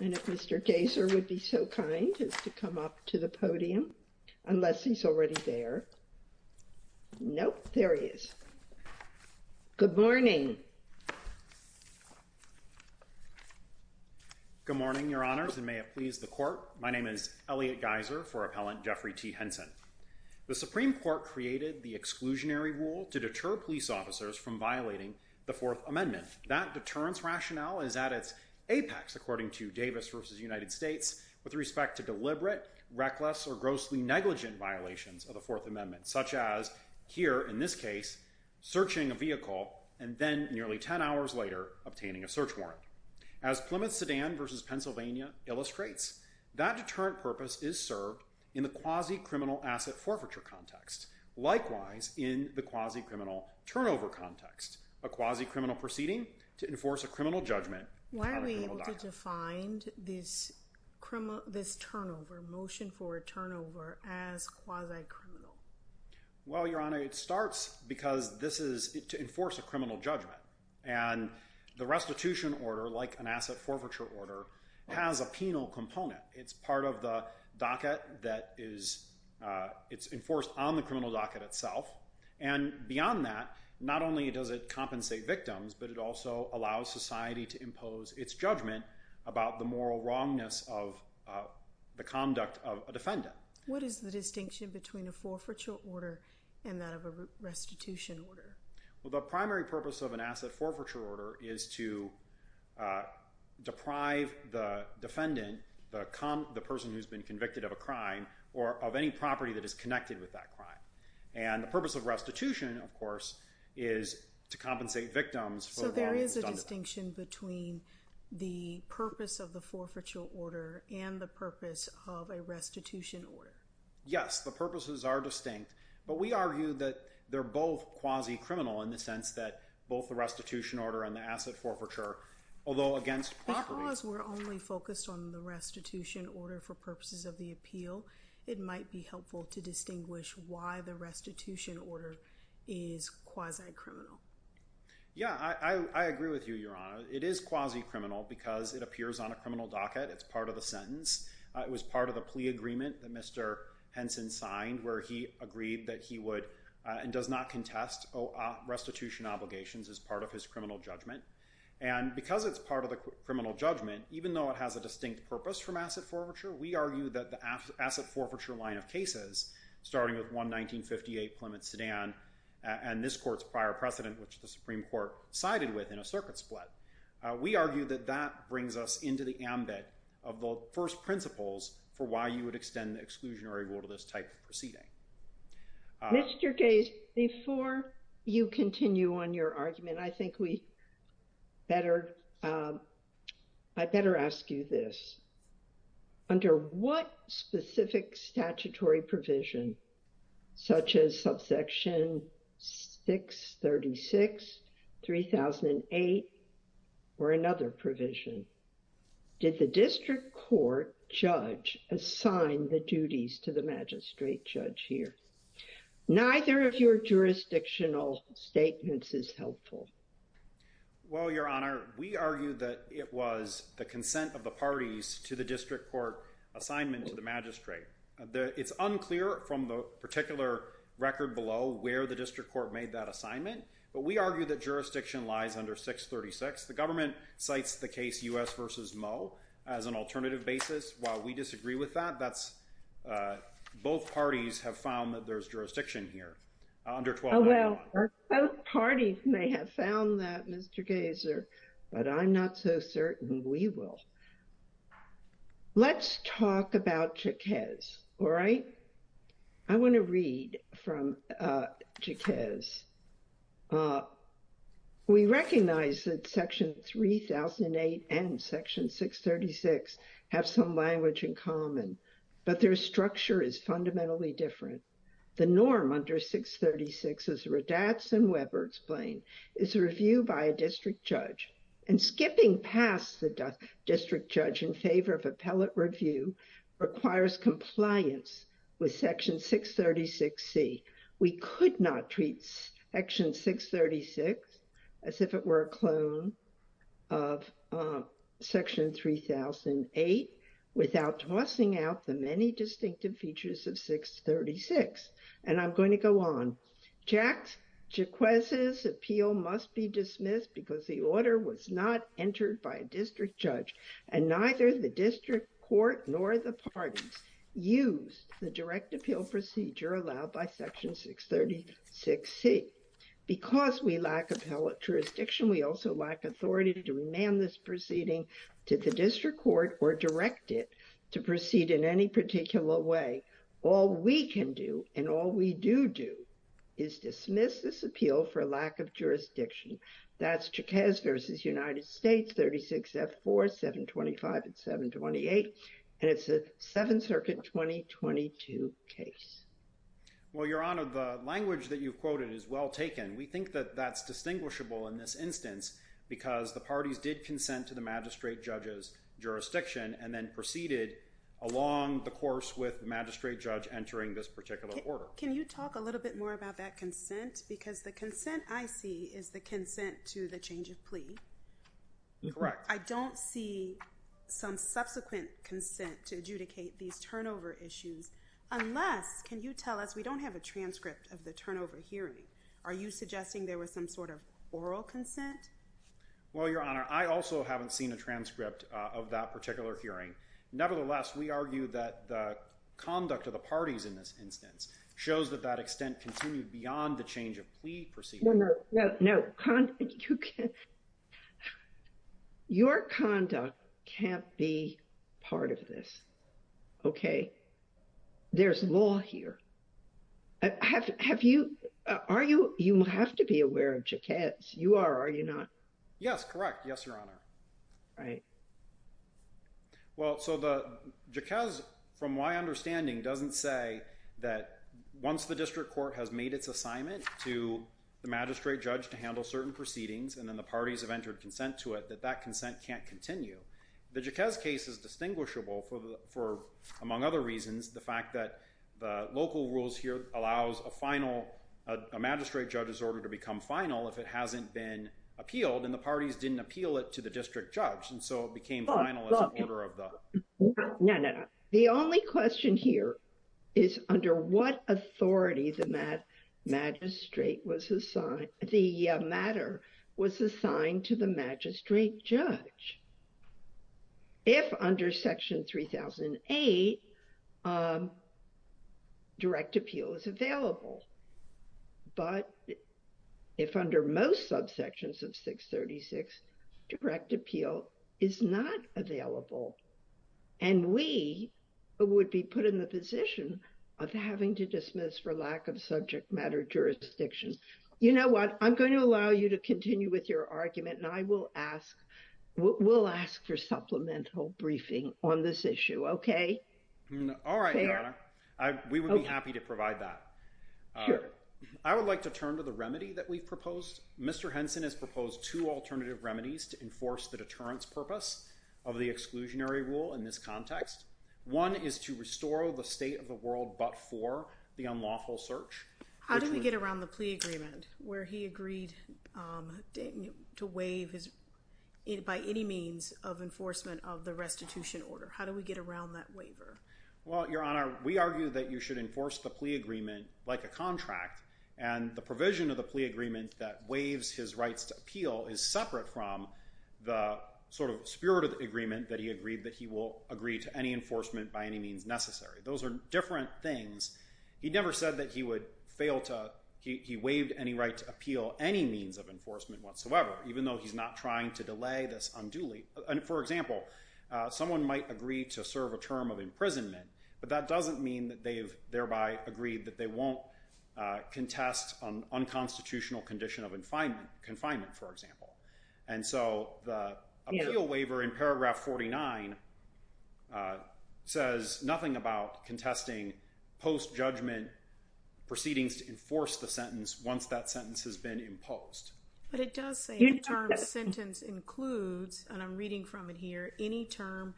And if Mr. Geyser would be so kind as to come up to the podium, unless he's already there. Nope, there he is. Good morning. Good morning, your honors, and may it please the court. My name is Elliot Geyser for appellant Jeffrey T. Henson. The Supreme Court created the exclusionary rule to deter police officers from violating the Fourth Amendment. That deterrence rationale is at its apex, according to Davis v. United States, with respect to deliberate, reckless, or grossly negligent violations of the Fourth Amendment, such as here, in this case, searching a vehicle and then, nearly 10 hours later, obtaining a search warrant. As Plymouth Sedan v. Pennsylvania illustrates, that deterrent purpose is served in the quasi-criminal asset forfeiture context, likewise in the quasi-criminal turnover context, a quasi-criminal proceeding to enforce a criminal judgment on a criminal diet. How are we able to define this turnover, motion for turnover, as quasi-criminal? Well, your honor, it starts because this is to enforce a criminal judgment, and the restitution order, like an asset forfeiture order, has a penal component. It's part of the docket that is enforced on the criminal docket itself, and beyond that, not only does it compensate victims, but it also allows society to impose its judgment about the moral wrongness of the conduct of a defendant. What is the distinction between a forfeiture order and that of a restitution order? Well, the primary purpose of an asset forfeiture order is to deprive the defendant, the person who's been convicted of a crime, or of any property that is connected with that crime. And the purpose of restitution, of course, is to compensate victims for the wrong they've done to them. So there is a distinction between the purpose of the forfeiture order and the purpose of a restitution order? Yes, the purposes are distinct, but we argue that they're both quasi-criminal in the sense that both the restitution order and the asset forfeiture, Because we're only focused on the restitution order for purposes of the appeal, it might be helpful to distinguish why the restitution order is quasi-criminal. Yeah, I agree with you, Your Honor. It is quasi-criminal because it appears on a criminal docket. It's part of the sentence. It was part of the plea agreement that Mr. Henson signed where he agreed that he would, and does not contest restitution obligations as part of his criminal judgment. And because it's part of the criminal judgment, even though it has a distinct purpose from asset forfeiture, we argue that the asset forfeiture line of cases, starting with 1-1958 Plymouth Sedan and this court's prior precedent, which the Supreme Court sided with in a circuit split, we argue that that brings us into the ambit of the first principles for why you would extend the exclusionary rule to this type of proceeding. Mr. Gaze, before you continue on your argument, I think we better, I better ask you this. Under what specific statutory provision, such as subsection 636-3008 or another provision, did the district court judge assign the duties to the magistrate judge here? Neither of your jurisdictional statements is helpful. Well, Your Honor, we argue that it was the consent of the parties to the district court assignment to the magistrate. It's unclear from the particular record below where the district court made that assignment, but we argue that jurisdiction lies under 636. The government cites the case U.S. v. Moe as an alternative basis. While we disagree with that, that's, both parties have found that there's jurisdiction here. Oh, well, both parties may have found that, Mr. Gazer, but I'm not so certain we will. Let's talk about Jaquez, all right? I want to read from Jaquez. We recognize that section 3008 and section 636 have some language in common, but their structure is fundamentally different. The norm under 636, as Radatz and Weber explain, is a review by a district judge, and skipping past the district judge in favor of appellate review requires compliance with section 636C. We could not treat section 636 as if it were a clone of section 3008 without tossing out the many distinctive features of 636, and I'm going to go on. Jaquez's appeal must be dismissed because the order was not entered by a district judge, and neither the district court nor the parties used the direct appeal procedure allowed by section 636C. Because we lack appellate jurisdiction, we also lack authority to demand this proceeding to the district court or direct it to proceed in any particular way. All we can do, and all we do do, is dismiss this appeal for lack of jurisdiction. That's Jaquez v. United States, 36F4, 725 and 728, and it's a Seventh Circuit 2022 case. Well, Your Honor, the language that you've quoted is well taken. We think that that's distinguishable in this instance because the parties did consent to the magistrate judge's jurisdiction and then proceeded along the course with the magistrate judge entering this particular order. Can you talk a little bit more about that consent? Because the consent I see is the consent to the change of plea. Correct. I don't see some subsequent consent to adjudicate these turnover issues unless, can you tell us, we don't have a transcript of the turnover hearing. Are you suggesting there was some sort of oral consent? Well, Your Honor, I also haven't seen a transcript of that particular hearing. Nevertheless, we argue that the conduct of the parties in this instance shows that that extent continued beyond the change of plea proceeding. No, no, no. Your conduct can't be part of this, okay? There's law here. You have to be aware of Jaquez. You are, are you not? Yes, correct. Yes, Your Honor. Right. Well, so the Jaquez, from my understanding, doesn't say that once the district court has made its assignment to the magistrate judge to handle certain proceedings and then the parties have entered consent to it, that that consent can't continue. The Jaquez case is distinguishable for, among other reasons, the fact that the local rules here allows a final, a magistrate judge's order to become final if it hasn't been appealed and the parties didn't appeal it to the district judge and so it became final as an order of the... No, no, no. The only question here is under what authority the magistrate was assigned, the matter was assigned to the magistrate judge. If under Section 3008, direct appeal is available, but if under most subsections of 636, direct appeal is not available and we would be put in the position of having to dismiss for lack of subject matter jurisdiction. You know what? I'm going to allow you to continue with your argument and I will ask for supplemental briefing on this issue, okay? All right, Your Honor. We would be happy to provide that. I would like to turn to the remedy that we've proposed. Mr. Henson has proposed two alternative remedies to enforce the deterrence purpose of the exclusionary rule in this context. One is to restore the state of the world but for the unlawful search. How do we get around the plea agreement where he agreed to waive by any means of enforcement of the restitution order? How do we get around that waiver? Well, Your Honor, we argue that you should enforce the plea agreement like a contract and the provision of the plea agreement that waives his rights to appeal is separate from the sort of spirit of the agreement that he agreed that he will agree to any enforcement by any means necessary. Those are different things. He never said that he would fail to—he waived any right to appeal any means of enforcement whatsoever even though he's not trying to delay this unduly. For example, someone might agree to serve a term of imprisonment but that doesn't mean that they've thereby agreed that they won't contest an unconstitutional condition of confinement, for example. And so the appeal waiver in paragraph 49 says nothing about contesting post-judgment proceedings to enforce the sentence once that sentence has been imposed. But it does say the term sentence includes, and I'm reading from it here, any term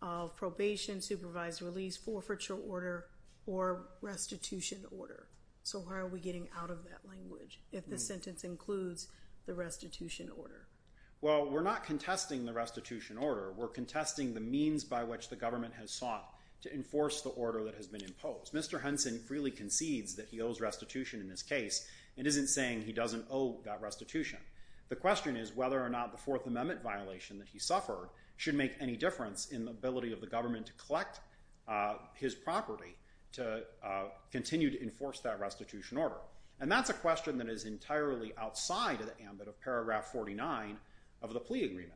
of probation, supervised release, forfeiture order, or restitution order. If the sentence includes the restitution order. Well, we're not contesting the restitution order. We're contesting the means by which the government has sought to enforce the order that has been imposed. Mr. Henson freely concedes that he owes restitution in this case and isn't saying he doesn't owe that restitution. The question is whether or not the Fourth Amendment violation that he suffered should make any difference in the ability of the government to collect his property to continue to enforce that restitution order. And that's a question that is entirely outside of the ambit of paragraph 49 of the plea agreement.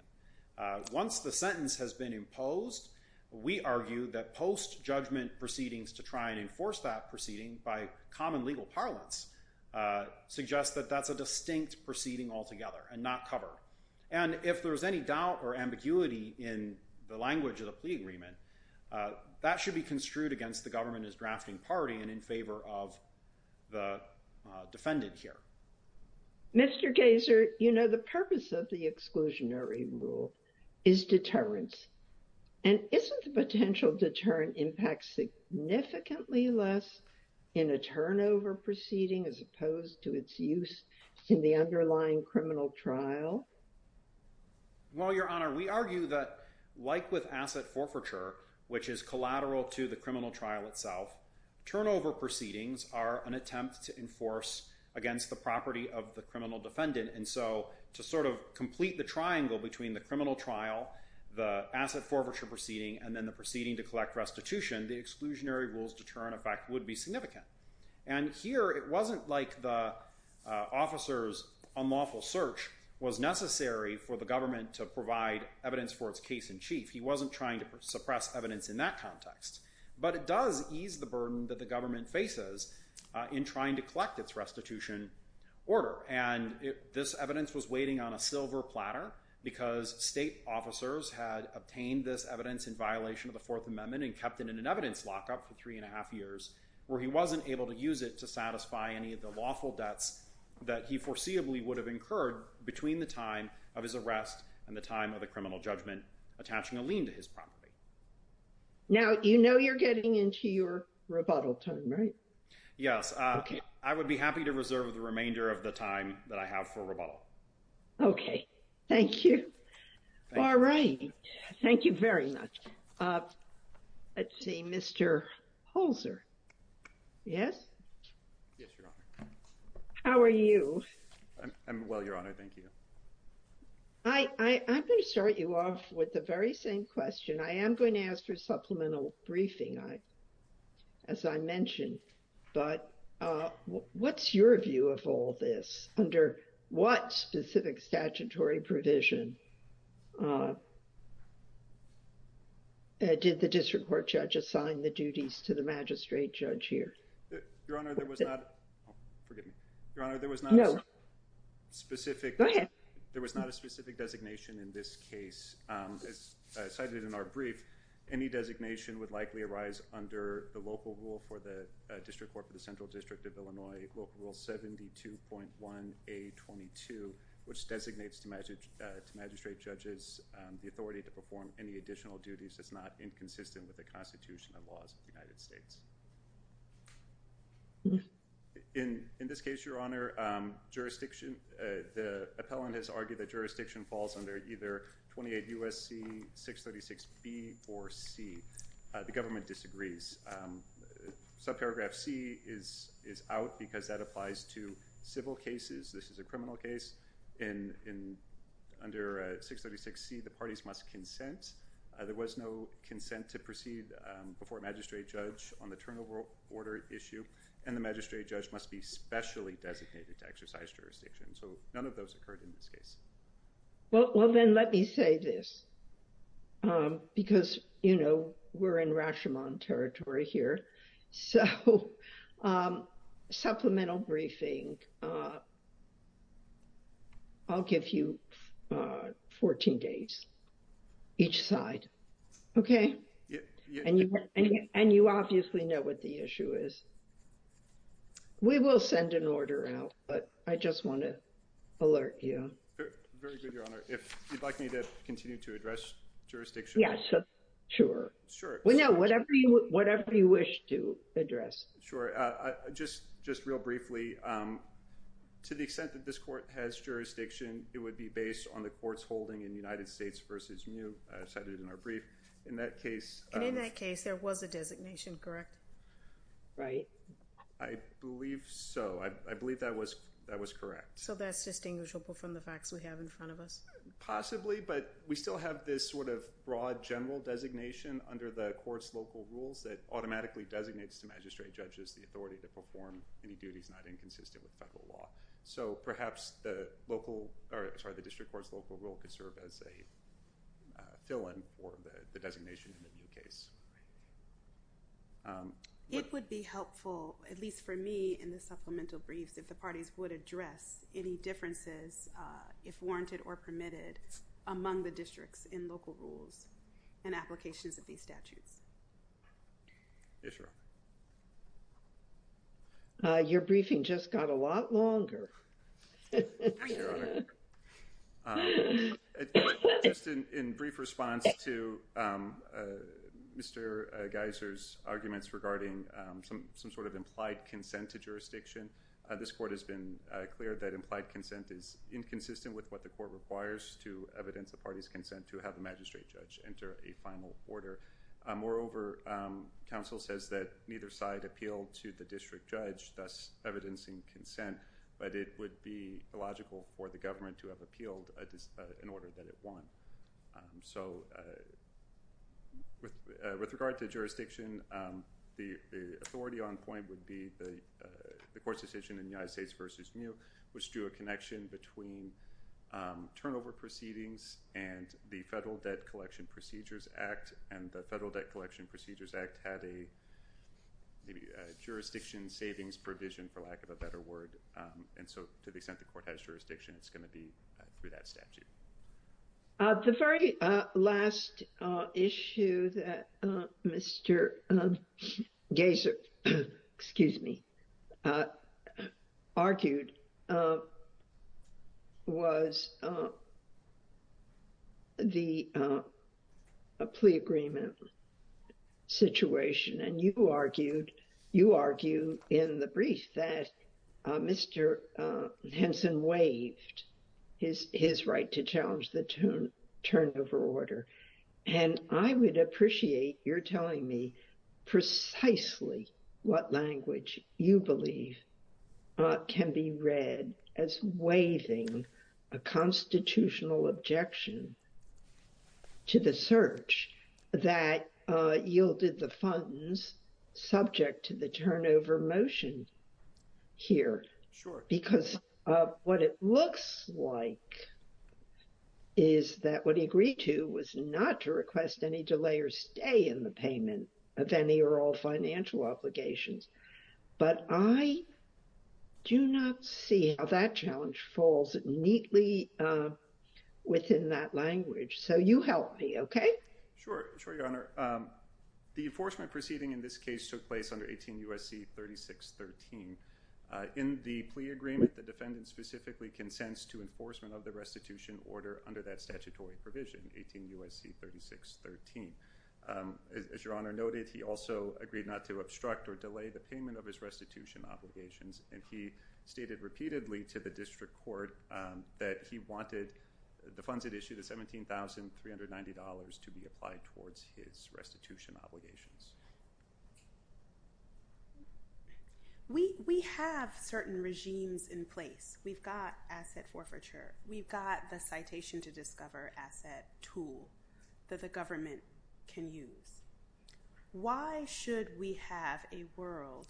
Once the sentence has been imposed, we argue that post-judgment proceedings to try and enforce that proceeding by common legal parlance suggests that that's a distinct proceeding altogether and not covered. And if there's any doubt or ambiguity in the language of the plea agreement, that should be construed against the government as drafting party and in favor of the defendant here. Mr. Gazer, you know the purpose of the exclusionary rule is deterrence. And isn't the potential deterrent impact significantly less in a turnover proceeding as opposed to its use in the underlying criminal trial? Well, Your Honor, we argue that like with asset forfeiture, which is collateral to the criminal trial itself, turnover proceedings are an attempt to enforce against the property of the criminal defendant. And so to sort of complete the triangle between the criminal trial, the asset forfeiture proceeding, and then the proceeding to collect restitution, the exclusionary rule's deterrent effect would be significant. And here it wasn't like the officer's unlawful search was necessary for the government to provide evidence for its case in chief. He wasn't trying to suppress evidence in that context. But it does ease the burden that the government faces in trying to collect its restitution order. And this evidence was waiting on a silver platter because state officers had obtained this evidence in violation of the Fourth Amendment and kept it in an evidence lockup for three and a half years where he wasn't able to use it to satisfy any of the lawful debts that he foreseeably would have incurred between the time of his arrest and the time of the criminal judgment attaching a lien to his property. Now, you know you're getting into your rebuttal time, right? Yes. I would be happy to reserve the remainder of the time that I have for rebuttal. Okay. Thank you. All right. Thank you very much. Let's see. Mr. Holzer. Yes? Yes, Your Honor. How are you? I'm well, Your Honor. Thank you. I'm going to start you off with the very same question. I am going to ask for supplemental briefing as I mentioned, but what's your view of all this? Under what specific statutory provision did the district court judge assign the duties to the magistrate judge here? Your Honor, there was not... Oh, forgive me. Your Honor, there was not... No. Specific... Go ahead. There was not a specific designation in this case. As cited in our brief, any designation would likely arise under the local rule for the district court for the Central District of Illinois, Local Rule 72.1A22, which designates to magistrate judges the authority to perform any additional duties that's not inconsistent with the Constitution and laws of the United States. In this case, Your Honor, the appellant has argued that jurisdiction falls under either 28 U.S.C. 636B or C. The government disagrees. Subparagraph C is out because that applies to civil cases. This is a criminal case. Under 636C, the parties must consent. There was no consent to proceed before a magistrate judge on the turnover order issue and the magistrate judge must be specially designated to exercise jurisdiction. So none of those occurred in this case. Well, then let me say this because, you know, we're in Rashomon territory here. So supplemental briefing, I'll give you 14 days. Each side. Okay? And you obviously know what the issue is. We will send an order out, but I just want to alert you. Very good, Your Honor. If you'd like me to continue to address jurisdiction. Yes, sure. Sure. Well, no, whatever you wish to address. Sure. Just real briefly, to the extent that this court has jurisdiction, it would be based on the court's holding in United States versus new cited in our brief. In that case. In that case, there was a designation, correct? Right. I believe so. I believe that was, that was correct. So that's distinguishable from the facts we have in front of us. Possibly, but we still have this sort of broad general designation under the courts, local rules that automatically designates to magistrate judges, the authority to perform any duties, not inconsistent with federal law. So perhaps the local or sorry, the district court's local rule could serve as a fill in for the designation in the new case. It would be helpful, at least for me in the supplemental briefs, if the parties would address any differences if warranted or permitted among the districts in local rules and applications of these statutes. Yes, Your Honor. Your briefing just got a lot longer. In brief response to Mr. Geiser's arguments regarding some, some sort of implied consent to jurisdiction. This court has been clear that implied consent is inconsistent with what the court requires to evidence the party's consent to have the magistrate judge enter a final order. Moreover, counsel says that neither side appealed to the district judge, thus evidencing consent, but it would be illogical for the government to have appealed in order that it won. So with, with regard to jurisdiction, the authority on point would be the, the court's decision in the United States versus new, which drew a connection between turnover proceedings and the federal debt collection procedures act. And the federal debt collection procedures act had a maybe a jurisdiction savings provision for lack of a better word. And so to the extent the court has jurisdiction, it's going to be through that statute. The very last issue that Mr. Geiser, excuse me, argued was the, a plea agreement situation. And you argued, you argue in the brief that Mr. Henson waved his, his right to challenge the tune turned over order. And I would appreciate your telling me precisely what language you believe can be read as waving a constitutional objection. To the search that yielded the funds subject to the turnover motion here. Sure. Because what it looks like is that what he agreed to was not to request any delay or stay in the payment of any or all financial obligations. But I do not see how that challenge falls neatly within that language. So you help me. Okay. Sure. Sure. Your Honor. Um, the enforcement proceeding in this case took place under 18 U.S.C. 3613. Uh, in the plea agreement, the defendant specifically consents to enforcement of the restitution order under that statutory provision, 18 U.S.C. 3613. Um, as your Honor noted, he also agreed not to obstruct or delay the payment of his restitution obligations. And he stated repeatedly to the district court, um, that he wanted the funds had issued a $17,390 to be applied towards his restitution obligations. We, we have certain regimes in place. We've got asset forfeiture. We've got the citation to discover asset tool that the government can use. Why should we have a world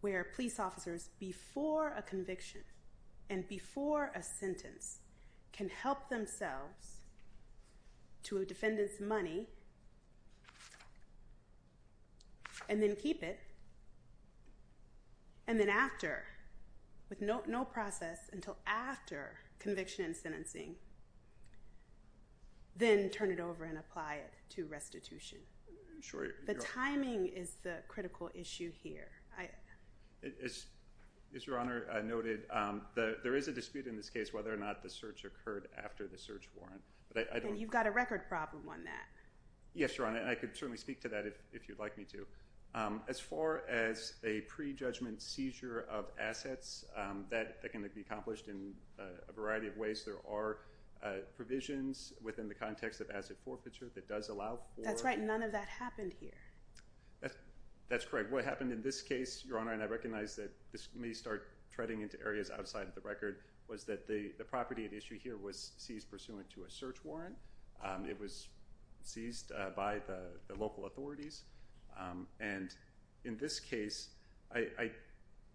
where police officers before a conviction and before a sentence can help themselves to a defendant's money and then keep it. And then after with no, no process until after conviction and sentencing, then turn it over and apply it to restitution. Sure. The timing is the critical issue here. I, it's, it's your Honor noted. Um, the, there is a dispute in this case whether or not the search occurred after the search warrant, but I don't think you've got a record problem on that. Yes, Your Honor. And I could certainly speak to that if, if you'd like me to, um, as far as a pre-judgment seizure of assets, um, that can be accomplished in a variety of ways. There are, uh, provisions within the context of asset forfeiture that does allow for, that's right. None of that happened here. That's correct. What happened in this case, your Honor. And I recognize that this may start treading into areas outside of the record was that the, the property at issue here was seized pursuant to a search warrant. Um, it was seized, uh, by the local authorities. Um, and in this case, I, I,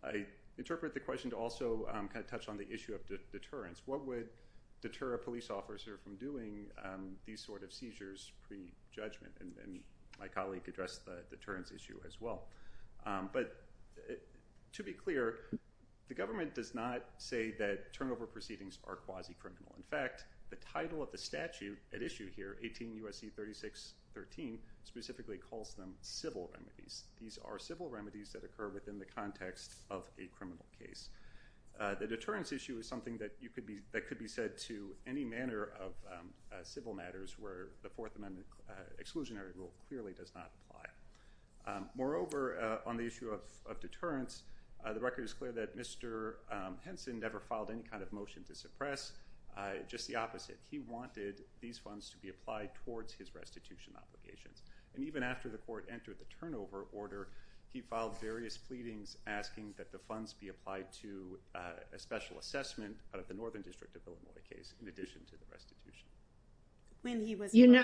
I interpret the question to also, um, kind of touch on the issue of deterrence. What would deter a police officer from doing, um, these sorts of seizures pre-judgment and, and my colleague addressed the deterrence issue as well. Um, but to be clear, the government does not say that turnover proceedings are quasi criminal. In fact, the title of the statute at issue here, 18 USC 36, 13 specifically calls them civil remedies. These are civil remedies that occur within the context of a criminal case. Uh, the deterrence issue is something that you could be, that could be said to any manner of, um, uh, civil matters where the fourth amendment exclusionary rule clearly does not apply. Um, and moreover, uh, on the issue of, of deterrence, uh, the record is clear that Mr. Um, Henson never filed any kind of motion to suppress, uh, just the opposite. He wanted these funds to be applied towards his restitution obligations. And even after the court entered the turnover order, he filed various pleadings asking that the funds be applied to, uh, a special assessment out of the Northern district of Illinois case. In addition to the restitution. When he was, you know,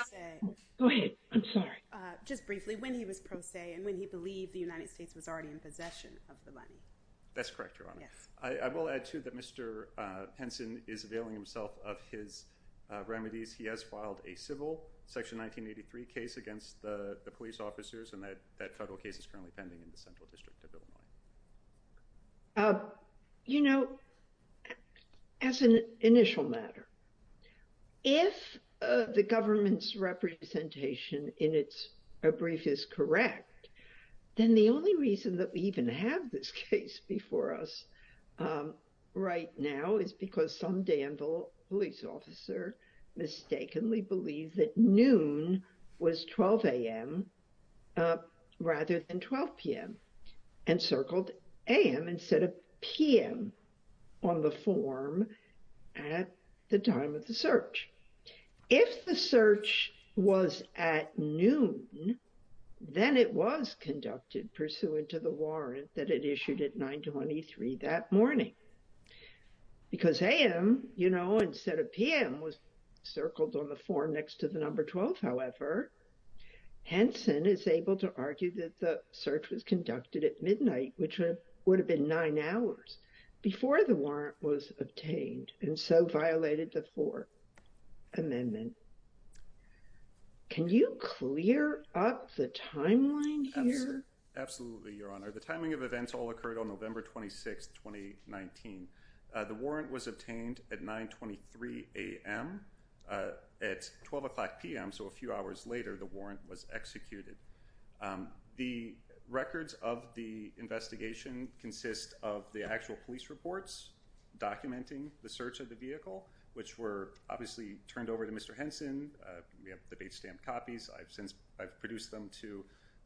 go ahead. I'm sorry. Uh, just briefly when he was pro se and when he believed the United States was already in possession of the money. That's correct. Your Honor. I will add to that. Mr. Uh, Henson is availing himself of his, uh, remedies. He has filed a civil section, 1983 case against the police officers. And that, that total case is currently pending in the central district of Illinois. Uh, you know, as an initial matter, if, uh, If the government's representation in it's a brief is correct. Then the only reason that we even have this case before us, um, right now is because some Danville police officer. Mistakenly believe that noon was 12 AM. Uh, rather than 12 PM and circled AM instead of PM. On the form. Uh, Henson is able to argue that the search was conducted at noon. At the time of the search. If the search was at noon. Then it was conducted pursuant to the warrant that it issued at nine 23 that morning. Because I am, you know, instead of PM was circled on the form next to the number 12. However, Henson is able to argue that the search was conducted at midnight, which would have been nine hours before the warrant was obtained. And so violated the four. Amendment. Can you clear up the timeline here? Absolutely. Your honor. The timing of events all occurred on November 26th, 2019. Uh, the warrant was obtained at nine 23 AM. Uh, at 12 o'clock PM. So a few hours later, the warrant was executed. Um, the records of the investigation consist of the actual police reports. Documenting the search of the vehicle, which were obviously turned over to Mr. Henson. Uh, we have the base stamp copies. I've since I've produced them to,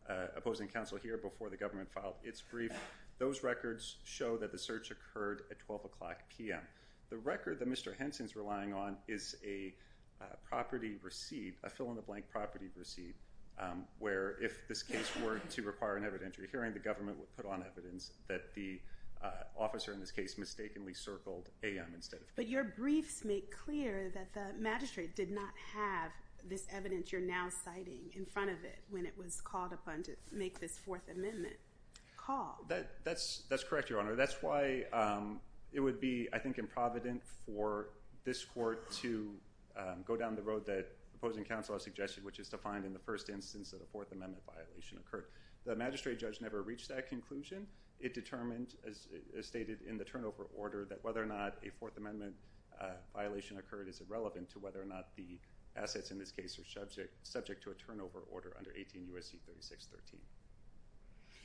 uh, opposing council here before the government filed its brief. Those records show that the search occurred at 12 o'clock PM. The record that Mr. Henson's relying on is a, uh, property receipt, a fill in the blank property receipt. Um, where if this case were to require an evidentiary hearing, the government would put on evidence that the, uh, officer in this case mistakenly circled a instead of, but your briefs make clear that the magistrate did not have this evidence. You're now citing in front of it when it was called upon to make this fourth amendment call that that's, that's correct. Your honor. That's why, um, it would be, I think in Providence for this court to, um, go down the road that opposing council has suggested, which is to find in the first instance of the fourth amendment violation occurred. The magistrate judge never reached that conclusion. It determined as stated in the turnover order that whether or not a fourth amendment, uh, violation occurred is irrelevant to whether or not the assets in this case are subject, subject to a turnover order under 18 USC, 36, 13.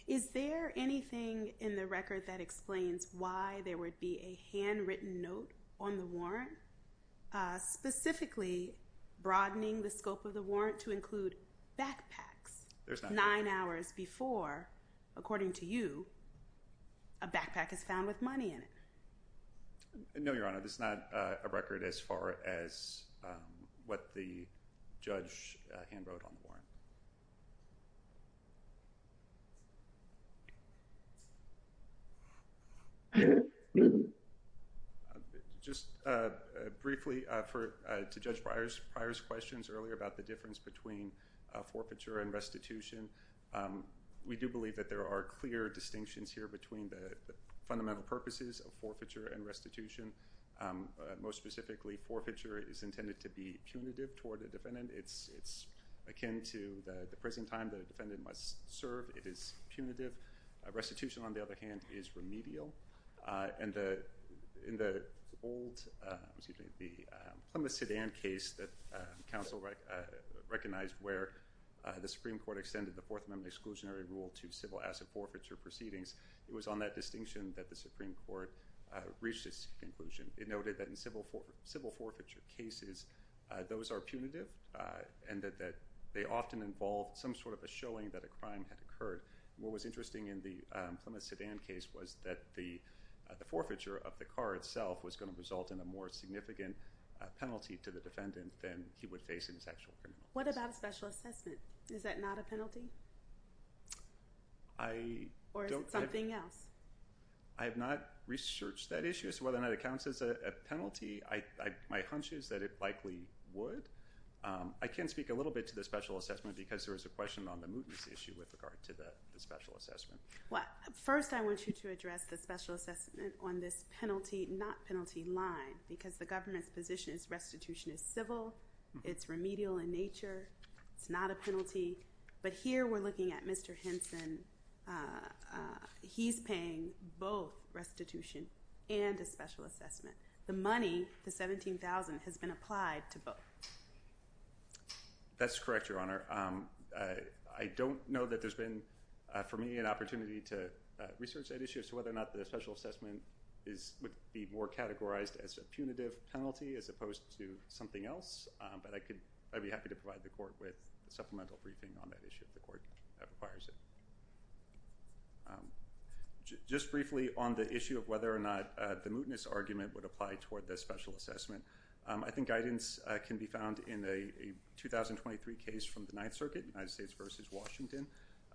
Is there anything in the record that explains why there would be a handwritten note on the warrant, uh, specifically broadening the scope of the warrant to include backpacks nine hours before, according to you, a backpack is found with money in it. No, your honor. um, what the judge hand wrote on the warrant. Um, just, uh, briefly, uh, for, uh, to judge Briar's prior questions earlier about the difference between, uh, forfeiture and restitution. Um, we do believe that there are clear distinctions here between the fundamental purposes of forfeiture and restitution. Um, most specifically forfeiture is intended to be punitive toward the defendant. It's, it's akin to the, the prison time that a defendant must serve. It is punitive. Uh, restitution on the other hand is remedial. Uh, and the, in the old, uh, excuse me, the, um, Plymouth sedan case that, uh, council recognized where, uh, the Supreme court extended the fourth amendment exclusionary rule to civil asset forfeiture proceedings. It was on that distinction that the Supreme court, uh, reached its conclusion. It noted that in civil for civil forfeiture cases, uh, those are punitive, uh, and that, that they often involve some sort of a showing that a crime had occurred. What was interesting in the, um, Plymouth sedan case was that the, uh, the forfeiture of the car itself was going to result in a more significant, uh, penalty to the defendant than he would face in his actual criminal. What about a special assessment? Is that not a penalty? I don't, something else. I have not researched that issue. So whether or not it counts as a penalty, I, I, my hunch is that it likely would. Um, I can speak a little bit to the special assessment because there was a question on the mootness issue with regard to the special assessment. What first I want you to address the special assessment on this penalty, not penalty line, because the government's position is restitution is civil. It's remedial in nature. It's not a penalty, but here we're looking at Mr. Henson. Uh, uh, he's paying both restitution and a special assessment. The money, the 17,000 has been applied to both. That's correct. Your honor. Um, uh, I don't know that there's been, uh, for me an opportunity to research that issue. So whether or not the special assessment is, would be more categorized as a punitive penalty as opposed to something else. Um, but I could, I'd be happy to provide the court with a supplemental briefing on that issue. If the court requires it, um, just briefly on the issue of whether or not, uh, the mootness argument would apply toward this special assessment. Um, I think guidance, uh, can be found in a 2023 case from the ninth circuit United States versus Washington.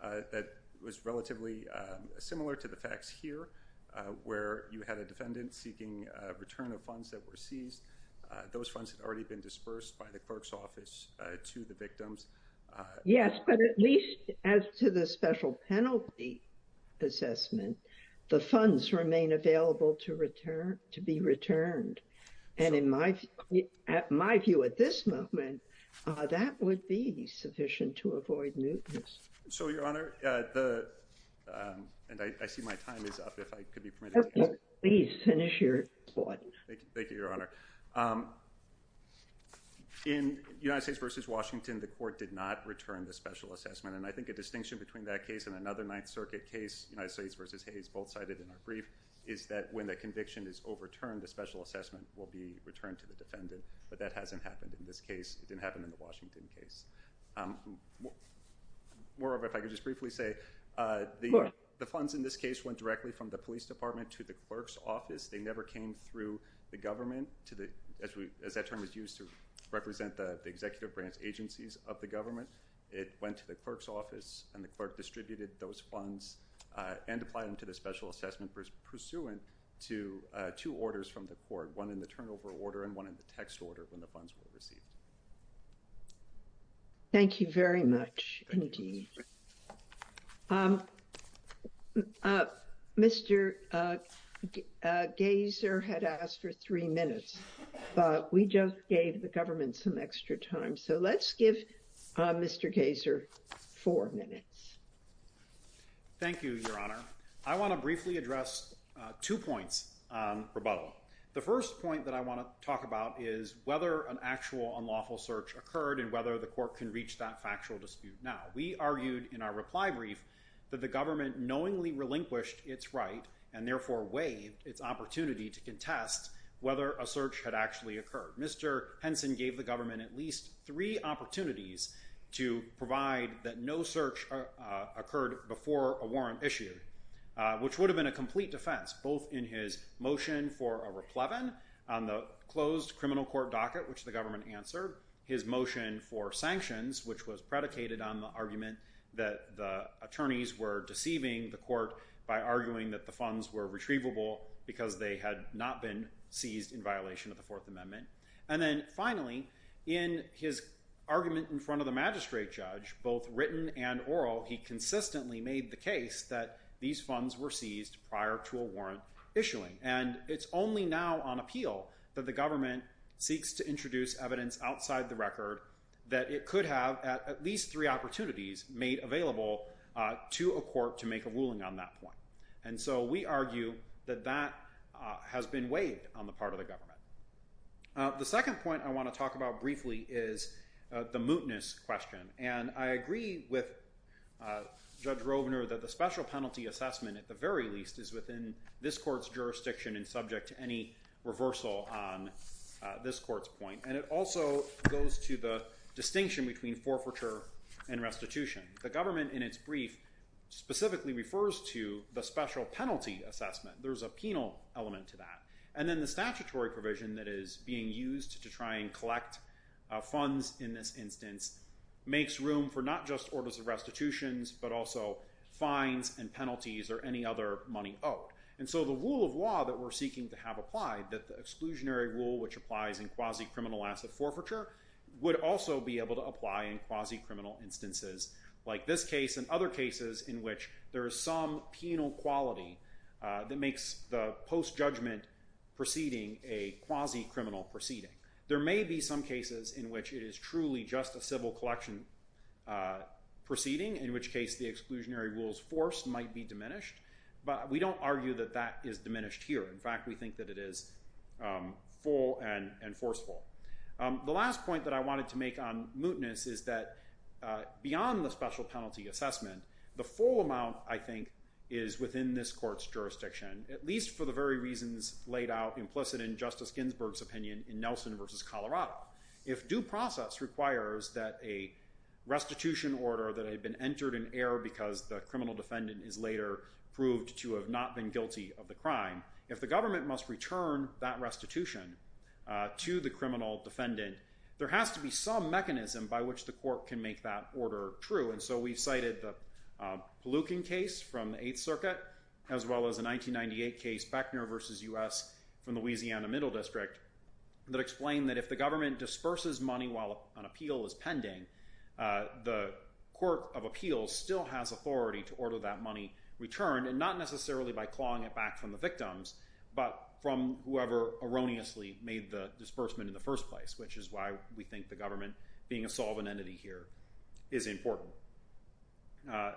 Uh, that was relatively, um, similar to the facts here, uh, where you had a defendant seeking a return of funds that were seized. Uh, those funds had already been dispersed by the clerk's office, uh, to the victims. Uh, yes, but at least as to the special penalty assessment, the funds remain available to return to be returned. And in my, at my view at this moment, uh, that would be sufficient to avoid mootness. So your honor, uh, the, um, and I, I see my time is up. If I could be permitted, please finish your point. Thank you. Thank you, your honor. Um, in United States versus Washington, the court did not return the special assessment. And I think a distinction between that case and another ninth circuit case, United States versus Hayes, both cited in our brief is that when the conviction is overturned, the special assessment will be returned to the defendant, but that hasn't happened in this case. It didn't happen in the Washington case. Um, moreover, if I could just briefly say, uh, the, the funds in this case went directly from the police department to the clerk's office. They never came through the government to the, as we, as that term is used to represent the executive branch agencies of the government. It went to the clerk's office and the clerk distributed those funds, uh, And apply them to the special assessment pursuant to, uh, two orders from the court, one in the turnover order and one in the text order when the funds were received. Thank you very much. Indeed. Um, uh, Mr. Uh, uh, gaze or had asked for three minutes, but we just gave the government some extra time. So let's give, uh, Mr. Gazer four minutes. Thank you, your honor. Um, I want to briefly address, uh, two points, um, rebuttal. The first point that I want to talk about is whether an actual unlawful search occurred and whether the court can reach that factual dispute. Now we argued in our reply brief that the government knowingly relinquished it's right. And therefore way it's opportunity to contest whether a search had actually occurred. Mr. Henson gave the government at least three opportunities to provide that no search, uh, which would have been a complete defense, both in his motion for a replevin on the closed criminal court docket, which the government answered his motion for sanctions, which was predicated on the argument that the attorneys were deceiving the court by arguing that the funds were retrievable because they had not been seized in violation of the fourth amendment. And then finally, in his argument in front of the magistrate judge, both written and oral, he consistently made the case that these funds were seized prior to a warrant issuing. And it's only now on appeal that the government seeks to introduce evidence outside the record that it could have at least three opportunities made available, uh, to a court to make a ruling on that point. And so we argue that that, uh, has been waived on the part of the government. Uh, the second point I want to talk about briefly is, uh, the mootness question. Um, and I agree with, uh, judge Robner that the special penalty assessment at the very least is within this court's jurisdiction and subject to any reversal on, uh, this court's point. And it also goes to the distinction between forfeiture and restitution. The government in its brief specifically refers to the special penalty assessment. There's a penal element to that. And then the statutory provision that is being used to try and collect, uh, funds in this instance, makes room for not just orders of restitutions, but also fines and penalties or any other money owed. And so the rule of law that we're seeking to have applied that the exclusionary rule, which applies in quasi criminal asset forfeiture would also be able to apply in quasi criminal instances like this case and other cases in which there is some penal quality, uh, that makes the post judgment proceeding a quasi criminal proceeding. There may be some cases in which it is truly just a civil collection, uh, proceeding in which case the exclusionary rules forced might be diminished, but we don't argue that that is diminished here. In fact, we think that it is, um, full and, and forceful. Um, the last point that I wanted to make on mootness is that, uh, beyond the special penalty assessment, the full amount I think is within this court's jurisdiction, at least for the very reasons laid out implicit in justice Ginsburg's opinion in Nelson versus Colorado. If due process requires that a restitution order that had been entered in error, because the criminal defendant is later proved to have not been guilty of the crime. If the government must return that restitution, uh, to the criminal defendant, there has to be some mechanism by which the court can make that order true. And so we've cited the, um, Palookan case from the eighth circuit, as well as a 1998 case Beckner versus us from Louisiana middle district. That explained that if the government disperses money while an appeal is pending, uh, the court of appeals still has authority to order that money returned and not necessarily by clawing it back from the victims, but from whoever erroneously made the disbursement in the first place, which is why we think the government being a solvent entity here is important. Uh,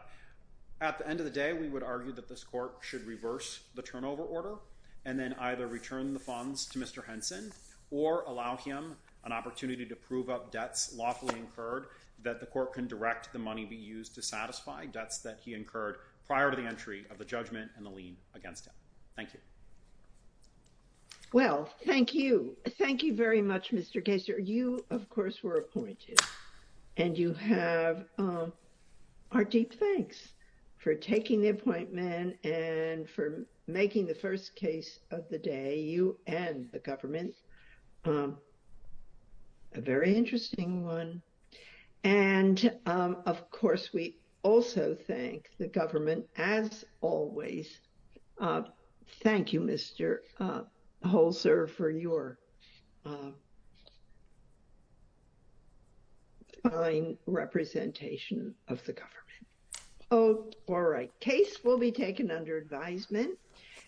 at the end of the day, we would argue that this court should reverse the turnover order and then either return the funds to Mr. Henson or allow him an opportunity to prove up debts lawfully incurred that the court can direct the money be used to satisfy debts that he incurred prior to the entry of the judgment and the lien against him. Thank you. Well, thank you. Thank you very much, Mr. Gasser. You of course were appointed and you have, um, our deep thanks for taking the appointment and for making the first case of the day you and the government, um, a very interesting one. And, um, of course, we also thank the government as always. Uh, thank you, Mr, uh, Holzer for your, uh, fine representation of the government. Oh, all right. Case will be taken under advisement.